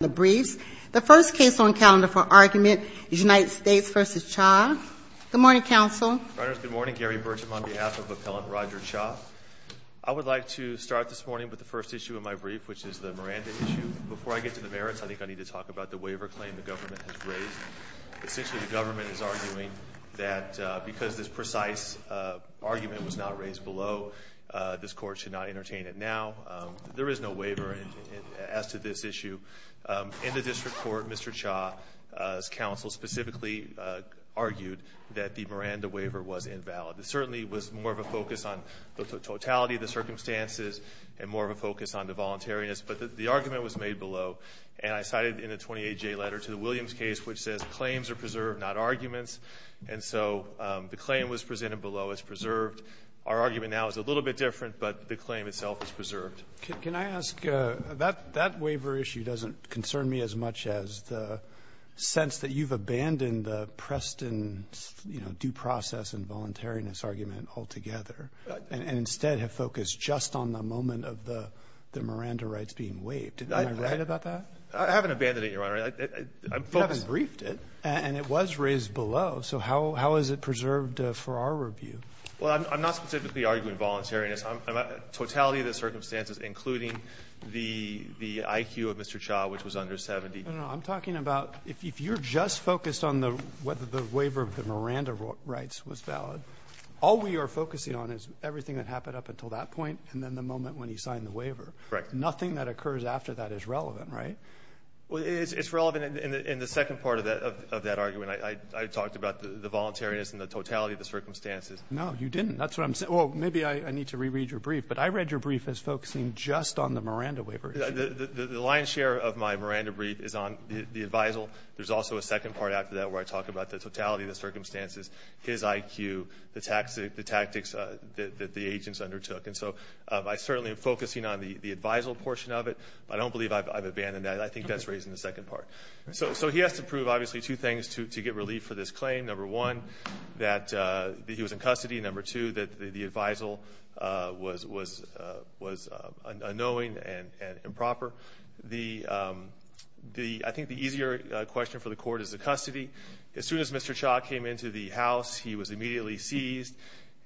in the briefs. The first case on calendar for argument is United States v. Cha. Good morning, counsel. Reuters, good morning. Gary Burcham on behalf of Appellant Roger Cha. I would like to start this morning with the first issue of my brief, which is the Miranda issue. Before I get to the merits, I think I need to talk about the waiver claim the government has raised. Essentially, the government is arguing that because this precise argument was not raised below, this Court should not entertain it now. There is no waiver as to this issue. In the district court, Mr. Cha's counsel specifically argued that the Miranda waiver was invalid. It certainly was more of a focus on the totality of the circumstances and more of a focus on the voluntariness. But the argument was made below, and I cited in the 28J letter to the Williams case, which says claims are preserved, not arguments. And so the claim was presented below. It's preserved. Our argument now is a little bit different, but the claim itself is preserved. Can I ask, that waiver issue doesn't concern me as much as the sense that you've abandoned the Preston's, you know, due process and voluntariness argument altogether and instead have focused just on the moment of the Miranda rights being waived. Am I right about that? I haven't abandoned it, Your Honor. I'm focused You haven't briefed it. And it was raised below. So how is it preserved for our review? Well, I'm not specifically arguing voluntariness. Totality of the circumstances, including the IQ of Mr. Cha, which was under 70. No, no. I'm talking about if you're just focused on whether the waiver of the Miranda rights was valid, all we are focusing on is everything that happened up until that point and then the moment when he signed the waiver. Right. Nothing that occurs after that is relevant, right? Well, it's relevant in the second part of that of that argument. I talked about the voluntariness and the totality of the circumstances. No, you didn't. That's what I'm saying. Well, maybe I need to reread your brief, but I read your brief as focusing just on the Miranda waiver. The lion's share of my Miranda brief is on the advisal. There's also a second part after that where I talk about the totality of the circumstances, his IQ, the tactics that the agents undertook. And so I certainly am focusing on the advisal portion of it. I don't believe I've abandoned that. I think that's raised in the second part. So he has to prove, obviously, two things to get relief for this claim. Number one, that he was in custody. Number two, that the advisal was unknowing and improper. I think the easier question for the court is the custody. As soon as Mr. Cha came into the house, he was immediately seized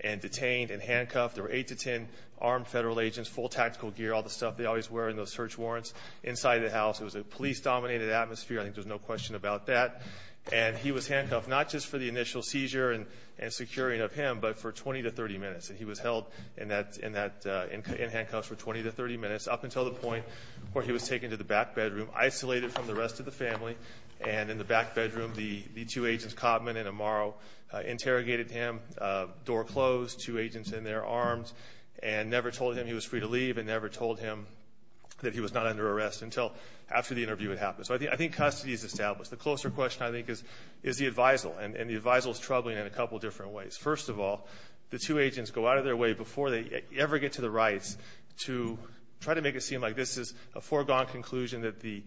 and detained and handcuffed. There were eight to ten armed federal agents, full tactical gear, all the stuff they always wear in those search warrants inside the house. It was a police-dominated atmosphere. I think there's no question about that. And he was handcuffed, not just for the initial seizure and securing of him, but for 20 to 30 minutes. And he was held in handcuffs for 20 to 30 minutes, up until the point where he was taken to the back bedroom, isolated from the rest of the family. And in the back bedroom, the two agents, Cotman and Amaro, interrogated him, door closed, two agents in their arms, and never told him he was free to leave and never told him that he was not under arrest until after the interview had happened. So I think custody is established. The closer question, I think, is the advisal. And the advisal is troubling in a couple different ways. First of all, the two agents go out of their way before they ever get to the rights to try to make it seem like this is a foregone conclusion that the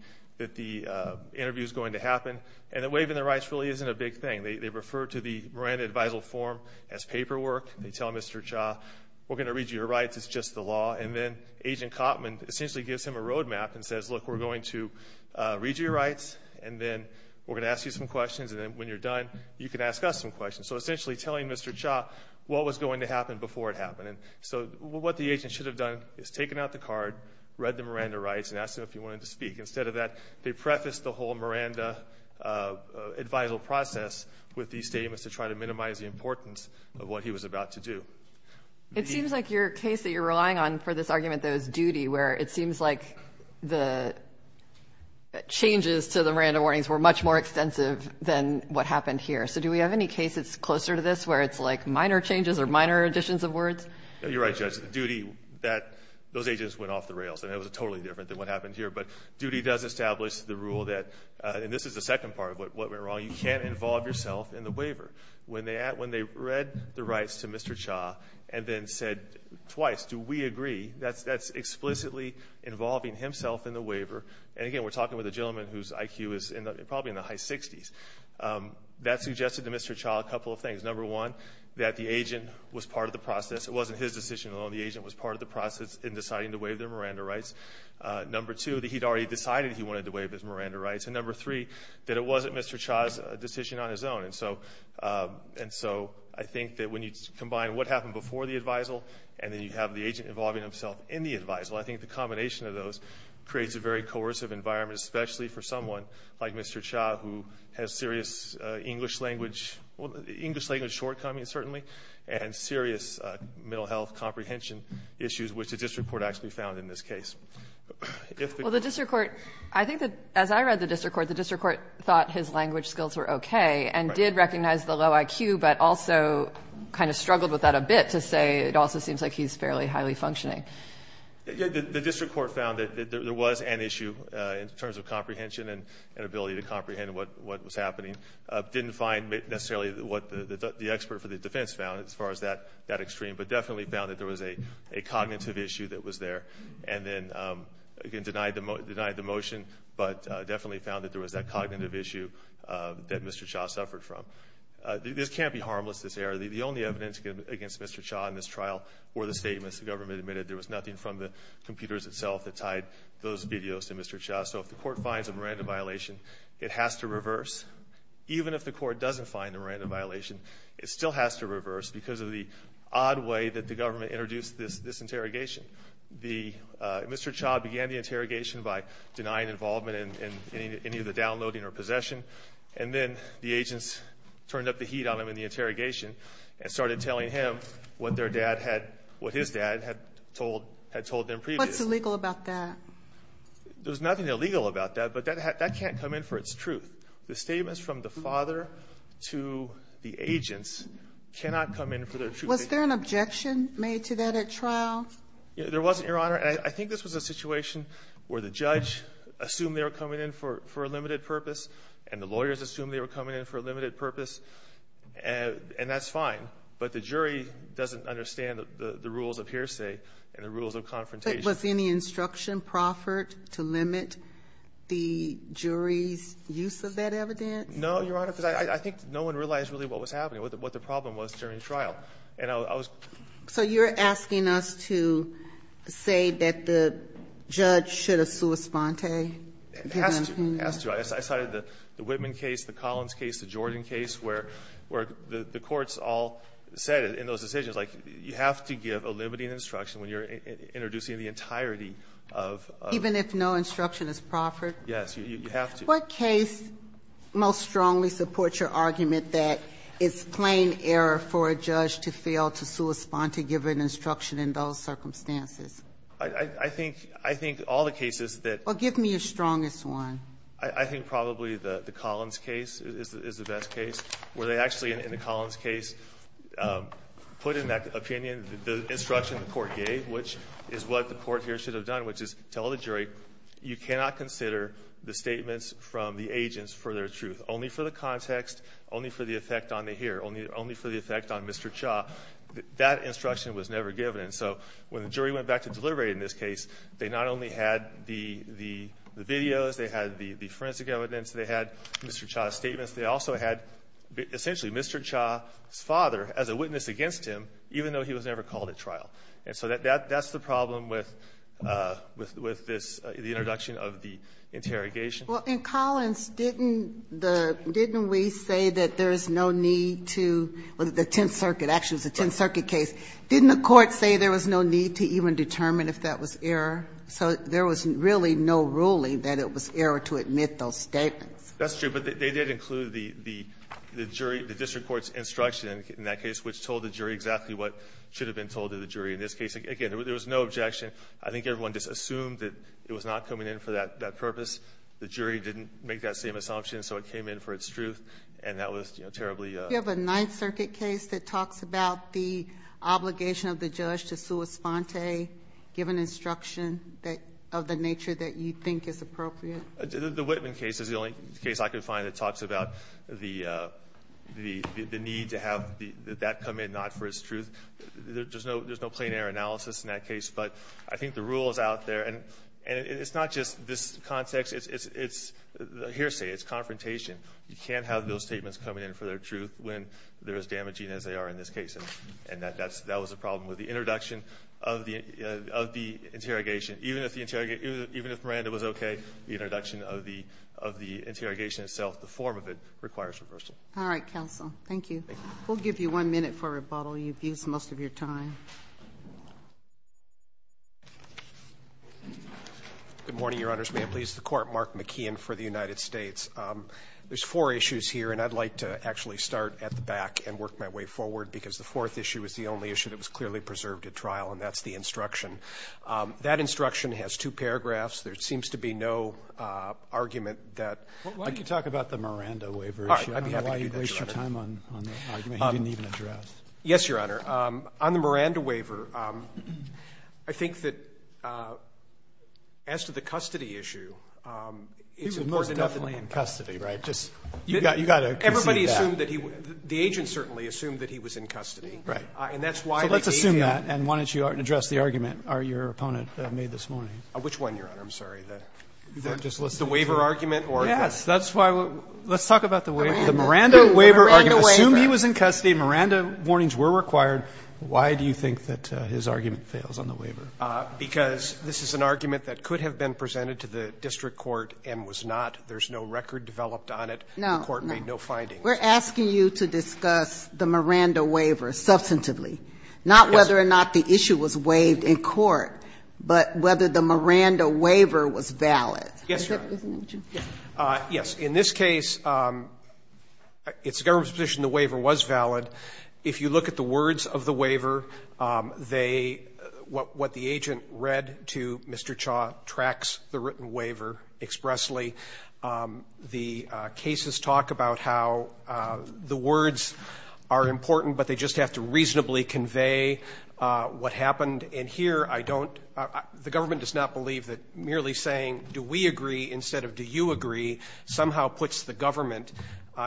interview is going to happen. And waiving the rights really isn't a big thing. They refer to the Miranda advisal form as paperwork. They tell Mr. Cha, we're going to read you your rights, it's just the law. And then Agent Cotman essentially gives him a road map and says, look, we're going to read you your rights, and then we're going to ask you some questions, and then when you're done, you can ask us some questions. So essentially telling Mr. Cha what was going to happen before it happened. So what the agent should have done is taken out the card, read the Miranda rights, and asked him if he wanted to speak. Instead of that, they prefaced the whole Miranda advisal process with these statements to try to minimize the importance of what he was about to do. It seems like your case that you're relying on for this argument, though, is duty, where it seems like the changes to the Miranda warnings were much more extensive than what happened here. So do we have any cases closer to this where it's like minor changes or minor additions of words? You're right, Judge. The duty that those agents went off the rails. And it was totally different than what happened here. But duty does establish the rule that, and this is the second part of what went wrong, you can't involve yourself in the waiver. When they read the rights to Mr. Cha and then said twice, do we agree? That's explicitly involving himself in the waiver. And again, we're talking with a gentleman whose IQ is probably in the high 60s. That suggested to Mr. Cha a couple of things. Number one, that the agent was part of the process. It wasn't his decision alone. The agent was part of the process in deciding to waive their Miranda rights. Number two, that he'd already decided he wanted to waive his Miranda rights. And number three, that it wasn't Mr. Cha's decision on his own. And so I think that when you combine what happened before the advisal and then you have the agent involving himself in the advisal, I think the combination of those creates a very coercive environment, especially for someone like Mr. Cha, who has serious English language shortcomings, certainly, and serious mental health comprehension issues, which the district court actually found in this case. Well, the district court, I think that as I read the district court, the district court did recognize the low IQ, but also kind of struggled with that a bit to say it also seems like he's fairly highly functioning. The district court found that there was an issue in terms of comprehension and an ability to comprehend what was happening. Didn't find necessarily what the expert for the defense found as far as that extreme, but definitely found that there was a cognitive issue that was there. And then, again, denied the motion, but definitely found that there was that This can't be harmless, this error. The only evidence against Mr. Cha in this trial were the statements the government admitted there was nothing from the computers itself that tied those videos to Mr. Cha. So if the court finds a Miranda violation, it has to reverse. Even if the court doesn't find a Miranda violation, it still has to reverse because of the odd way that the government introduced this interrogation. Mr. Cha began the interrogation by denying involvement in any of the downloading or possession. And then the agents turned up the heat on him in the interrogation and started telling him what their dad had, what his dad had told, had told them previously. What's illegal about that? There's nothing illegal about that, but that can't come in for its truth. The statements from the father to the agents cannot come in for their truth. Was there an objection made to that at trial? There wasn't, Your Honor. I think this was a situation where the judge assumed they were coming in for a limited purpose, and the lawyers assumed they were coming in for a limited purpose. And that's fine. But the jury doesn't understand the rules of hearsay and the rules of confrontation. Was any instruction proffered to limit the jury's use of that evidence? No, Your Honor, because I think no one realized really what was happening, what the problem was during the trial. And I was- So you're asking us to say that the judge should have sua sponte? Okay. It has to. It has to. I cited the Whitman case, the Collins case, the Jordan case, where the courts all said in those decisions, like, you have to give a limiting instruction when you're introducing the entirety of- Even if no instruction is proffered? Yes, you have to. What case most strongly supports your argument that it's plain error for a judge to fail to sua sponte, give an instruction in those circumstances? I think all the cases that- Well, give me a strongest one. I think probably the Collins case is the best case, where they actually, in the Collins case, put in that opinion the instruction the court gave, which is what the court here should have done, which is tell the jury, you cannot consider the statements from the agents for their truth. Only for the context, only for the effect on the hearer, only for the effect on Mr. Cha. That instruction was never given. And so when the jury went back to deliberate in this case, they not only had the videos, they had the forensic evidence, they had Mr. Cha's statements, they also had essentially Mr. Cha's father as a witness against him, even though he was never called at trial. And so that's the problem with this, the introduction of the interrogation. Well, in Collins, didn't we say that there is no need to, with the Tenth Circuit, actually, it's a Tenth Circuit case, didn't the court say there was no need to even determine if that was error? So there was really no ruling that it was error to admit those statements. That's true, but they did include the jury, the district court's instruction in that case, which told the jury exactly what should have been told to the jury. In this case, again, there was no objection. I think everyone just assumed that it was not coming in for that purpose. The jury didn't make that same assumption, so it came in for its truth, and that was terribly- Do you have a Ninth Circuit case that talks about the obligation of the judge to sua sponte, give an instruction of the nature that you think is appropriate? The Whitman case is the only case I could find that talks about the need to have that come in, not for its truth. There's no plain error analysis in that case, but I think the rule is out there. And it's not just this context, it's hearsay, it's confrontation. You can't have those statements coming in for their truth when they're as damaging as they are in this case. And that was the problem with the introduction of the interrogation. Even if Miranda was okay, the introduction of the interrogation itself, the form of it, requires reversal. All right, counsel. Thank you. We'll give you one minute for rebuttal. You've used most of your time. Good morning, Your Honors. May it please the Court. Mark McKeon for the United States. There's four issues here, and I'd like to actually start at the back and work my way forward, because the fourth issue is the only issue that was clearly preserved at trial, and that's the instruction. That instruction has two paragraphs. There seems to be no argument that I could talk about the Miranda waiver issue. I don't know why you wasted your time on the argument you didn't even address. Yes, Your Honor. On the Miranda waiver, I think that as to the custody issue, it's important to know that he was definitely in custody, right? You've got to conceive that. Everybody assumed that he was the agent certainly assumed that he was in custody. Right. And that's why the agent So let's assume that, and why don't you address the argument your opponent made this morning. Which one, Your Honor? I'm sorry. The waiver argument or the Yes, that's why we'll Let's talk about the waiver. The Miranda waiver argument. Miranda waiver. Assume he was in custody. Miranda warnings were required. Why do you think that his argument fails on the waiver? Because this is an argument that could have been presented to the district court and was not. There's no record developed on it. No. The court made no findings. We're asking you to discuss the Miranda waiver substantively, not whether or not the issue was waived in court, but whether the Miranda waiver was valid. Yes, Your Honor. Yes. In this case, it's the government's position the waiver was valid. If you look at the words of the waiver, they what the agent read to Mr. Chaw tracks the written waiver expressly. The cases talk about how the words are important, but they just have to reasonably convey what happened. And here, I don't the government does not believe that merely saying do we agree instead of do you agree somehow puts the government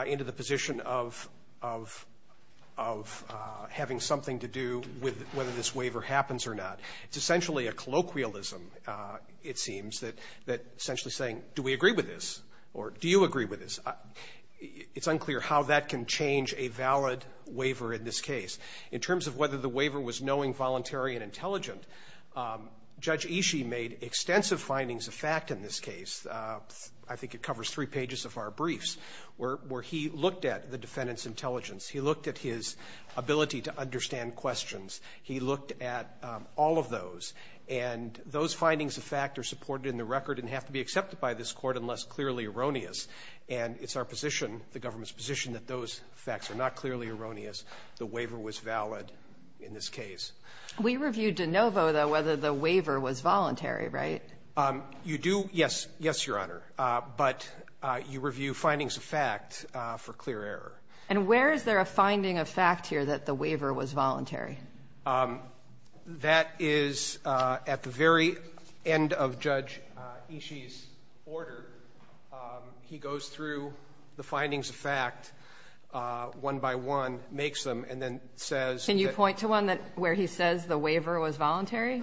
into the position of having something to do with whether this waiver happens or not. It's essentially a colloquialism, it seems, that essentially saying do we agree with this or do you agree with this. It's unclear how that can change a valid waiver in this case. In terms of whether the waiver was knowing, voluntary, and intelligent, Judge Ishii made extensive findings of fact in this case. I think it covers three pages of our briefs, where he looked at the defendant's intelligence. He looked at his ability to understand questions. He looked at all of those. And those findings of fact are supported in the record and have to be accepted by this Court unless clearly erroneous. And it's our position, the government's position, that those facts are not clearly erroneous. The waiver was valid in this case. We reviewed de novo, though, whether the waiver was voluntary, right? You do, yes, yes, Your Honor, but you review findings of fact for clear error. And where is there a finding of fact here that the waiver was voluntary? That is at the very end of Judge Ishii's order. He goes through the findings of fact one by one, makes them, and then says that the waiver was voluntary. Can I point to one where he says the waiver was voluntary?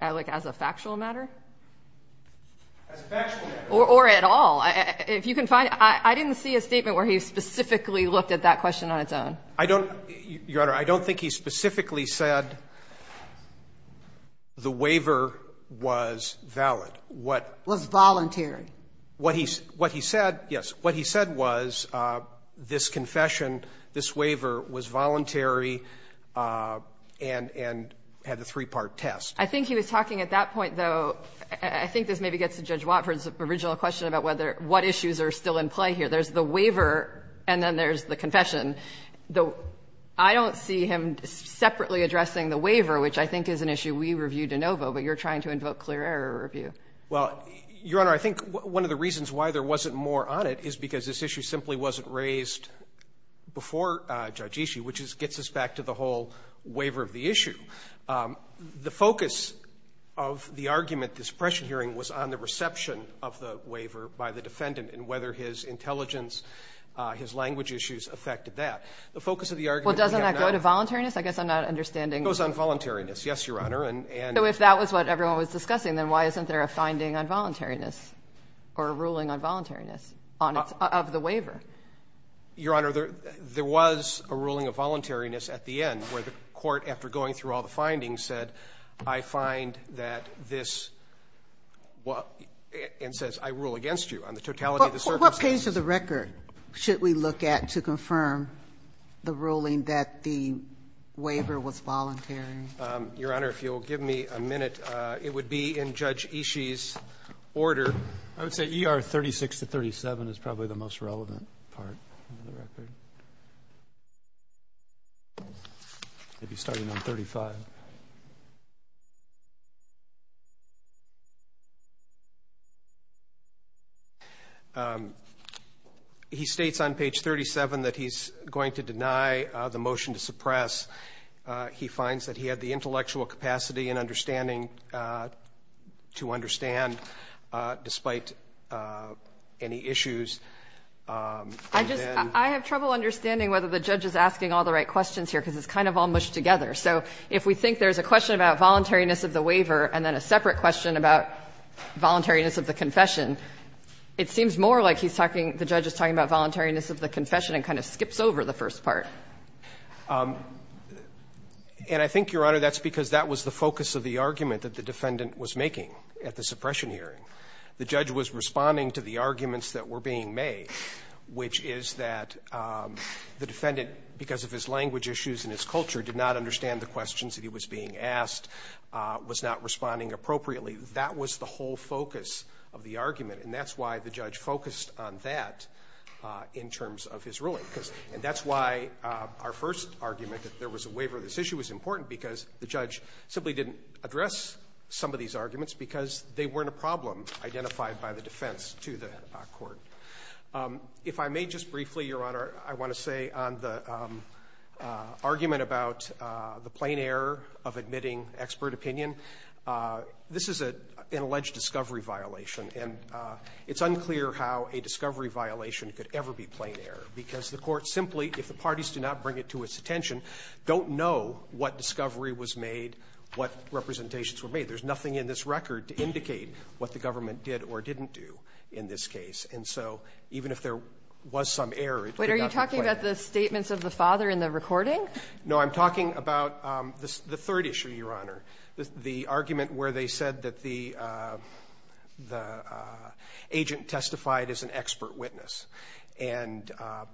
As a factual matter? As a factual matter. Or at all. If you can find it. I didn't see a statement where he specifically looked at that question on its own. I don't, Your Honor, I don't think he specifically said the waiver was valid. Was voluntary. What he said, yes, what he said was this confession, this waiver was voluntary and had a three-part test. I think he was talking at that point, though, I think this maybe gets to Judge Watford's original question about what issues are still in play here. There's the waiver and then there's the confession. I don't see him separately addressing the waiver, which I think is an issue we reviewed de novo, but you're trying to invoke clear error review. Well, Your Honor, I think one of the reasons why there wasn't more on it is because this issue simply wasn't raised before Judge Ishii, which gets us back to the whole waiver of the issue. The focus of the argument, this pressure hearing, was on the reception of the waiver by the defendant and whether his intelligence, his language issues, affected that. The focus of the argument we have now goes on voluntariness, yes, Your Honor. So if that was what everyone was discussing, then why isn't there a finding on voluntariness or a ruling on voluntariness of the waiver? Your Honor, there was a ruling of voluntariness at the end where the court, after going through all the findings, said, I find that this and says I rule against you on the totality of the circumstances. But what page of the record should we look at to confirm the ruling that the waiver was voluntary? Your Honor, if you'll give me a minute, it would be in Judge Ishii's order. I would say ER 36 to 37 is probably the most relevant part of the record. Maybe starting on 35. He states on page 37 that he's going to deny the motion to suppress. He finds that he had the intellectual capacity and understanding to understand despite any issues. And then the judge is asking all the right questions here because it's kind of all mushed together. So if we think there's a question about voluntariness of the waiver and then a separate question about voluntariness of the confession, it seems more like he's talking the judge is talking about voluntariness of the confession and kind of skips over the first part. And I think, Your Honor, that's because that was the focus of the argument that the defendant was making at the suppression hearing. The judge was responding to the arguments that were being made, which is that the defendant, because of his language issues and his culture, did not understand the questions that he was being asked, was not responding appropriately. That was the whole focus of the argument, and that's why the judge focused on that in terms of his ruling. And that's why our first argument, that there was a waiver of this issue, was important because the judge simply didn't address some of these arguments because they weren't a problem identified by the defense to the court. If I may just briefly, Your Honor, I want to say on the argument about the plain error of admitting expert opinion, this is an alleged discovery violation. And it's unclear how a discovery violation could ever be plain error because the court simply, if the parties do not bring it to its attention, don't know what discovery was made, what representations were made. There's nothing in this record to indicate what the government did or didn't do in this case. And so even if there was some error, it could not be plain. Kagan. But are you talking about the statements of the father in the recording? No. I'm talking about the third issue, Your Honor, the argument where they said that the agent testified as an expert witness and,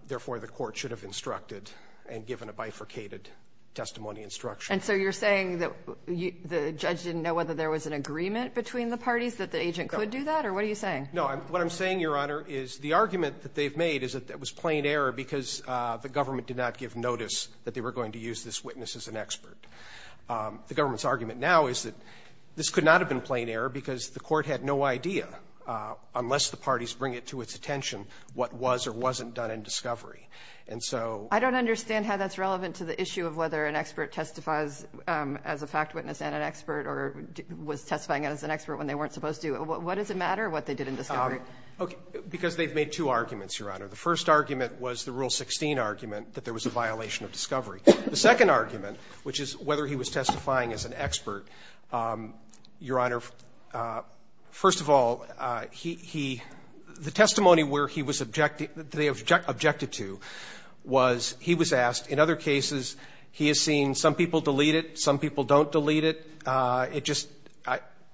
therefore, the court should have instructed and given a bifurcated testimony instruction. And so you're saying that the judge didn't know whether there was an agreement between the parties that the agent could do that? Or what are you saying? No. What I'm saying, Your Honor, is the argument that they've made is that it was plain error because the government did not give notice that they were going to use this witness as an expert. The government's argument now is that this could not have been plain error because the court had no idea, unless the parties bring it to its attention, what was or wasn't done in discovery. And so the court had no idea. I don't understand how that's relevant to the issue of whether an expert testifies as a fact witness and an expert or was testifying as an expert when they weren't supposed to. What does it matter what they did in discovery? Because they've made two arguments, Your Honor. The first argument was the Rule 16 argument that there was a violation of discovery. The second argument, which is whether he was testifying as an expert, Your Honor, first of all, he the testimony where he was objected to was he was asked, in other cases, he has seen some people delete it, some people don't delete it, it just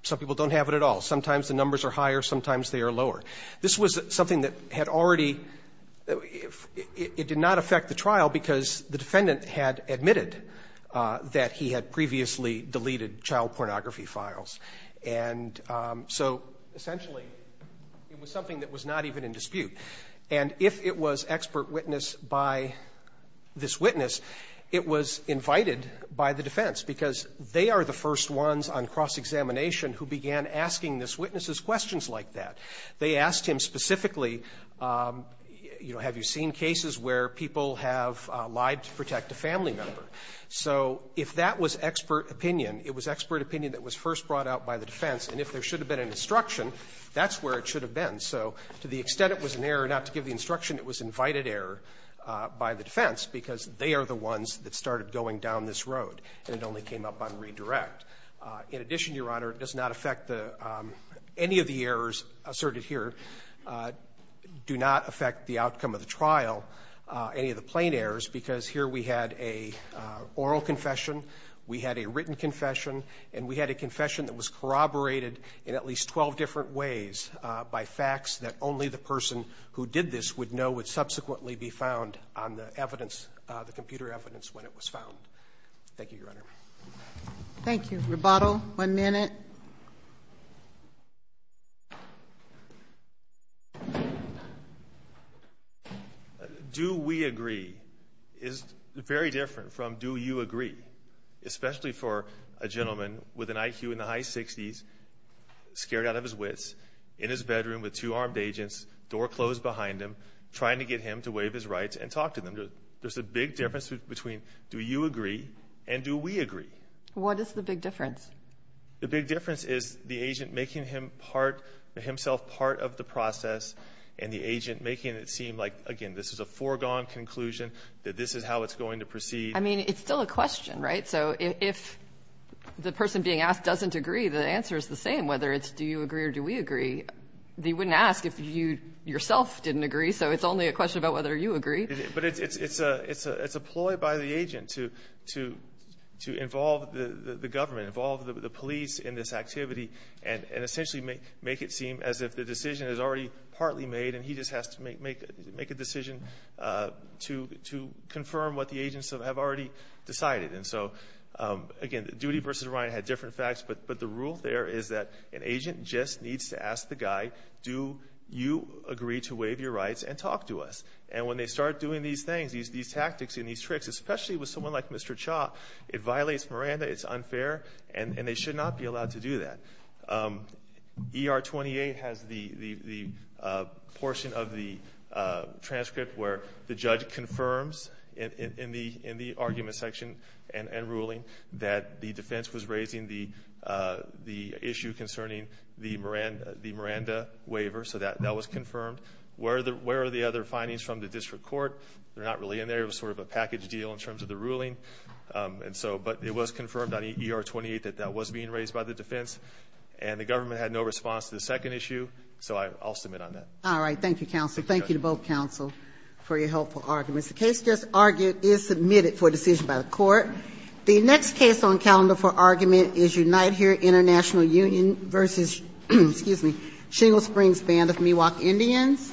some people don't have it at all. Sometimes the numbers are higher, sometimes they are lower. This was something that had already, it did not affect the trial because the defendant had admitted that he had previously deleted child pornography files. And so essentially it was something that was not even in dispute. And if it was expert witness by this witness, it was invited by the defense, because they are the first ones on cross-examination who began asking this witness's questions like that. They asked him specifically, you know, have you seen cases where people have lied to protect a family member? So if that was expert opinion, it was expert opinion that was first brought out by the defense. And if there should have been an instruction, that's where it should have been. So to the extent it was an error not to give the instruction, it was invited error by the defense, because they are the ones that started going down this road, and it only came up on redirect. In addition, Your Honor, it does not affect the any of the errors asserted here, do not affect the outcome of the trial, any of the plain errors, because here we had a oral confession, we had a written confession, and we had a confession that was corroborated in at least 12 different ways by facts that only the person who did this would know would subsequently be found on the evidence, the computer evidence when it was found. Thank you, Your Honor. Thank you. Roboto, one minute. Do we agree? Is very different from do you agree? Especially for a gentleman with an IQ in the high 60s, scared out of his wits, in his bedroom with two armed agents, door closed behind him, trying to get him to waive his rights and talk to them. There's a big difference between do you agree and do we agree? What is the big difference? The big difference is the agent making himself part of the process and the agent making it seem like, again, this is a foregone conclusion, that this is how it's going to proceed. I mean, it's still a question, right? So if the person being asked doesn't agree, the answer is the same, whether it's do you agree or do we agree. They wouldn't ask if you yourself didn't agree, so it's only a question about whether you agree. But it's a ploy by the agent to involve the government, involve the police in this activity, and essentially make it seem as if the decision is already partly made and he just has to make a decision to confirm what the agents have already decided. And so, again, Doody versus Ryan had different facts, but the rule there is that an agent just needs to ask the guy, do you agree to waive your rights and talk to us? And when they start doing these things, these tactics and these tricks, especially with someone like Mr. Cha, it violates Miranda, it's unfair, and they should not be allowed to do that. ER-28 has the portion of the transcript where the judge confirms in the argument section and ruling that the defense was raising the issue concerning the Miranda waiver, so that was confirmed. Where are the other findings from the district court? They're not really in there. It was sort of a package deal in terms of the ruling, but it was confirmed on ER-28 that that was being raised by the defense, and the government had no response to the second issue, so I'll submit on that. All right, thank you, counsel. Thank you to both counsel for your helpful arguments. The case just argued is submitted for decision by the court. The next case on calendar for argument is Unite Here International Union versus Shingle Springs Band of Miwok Indians.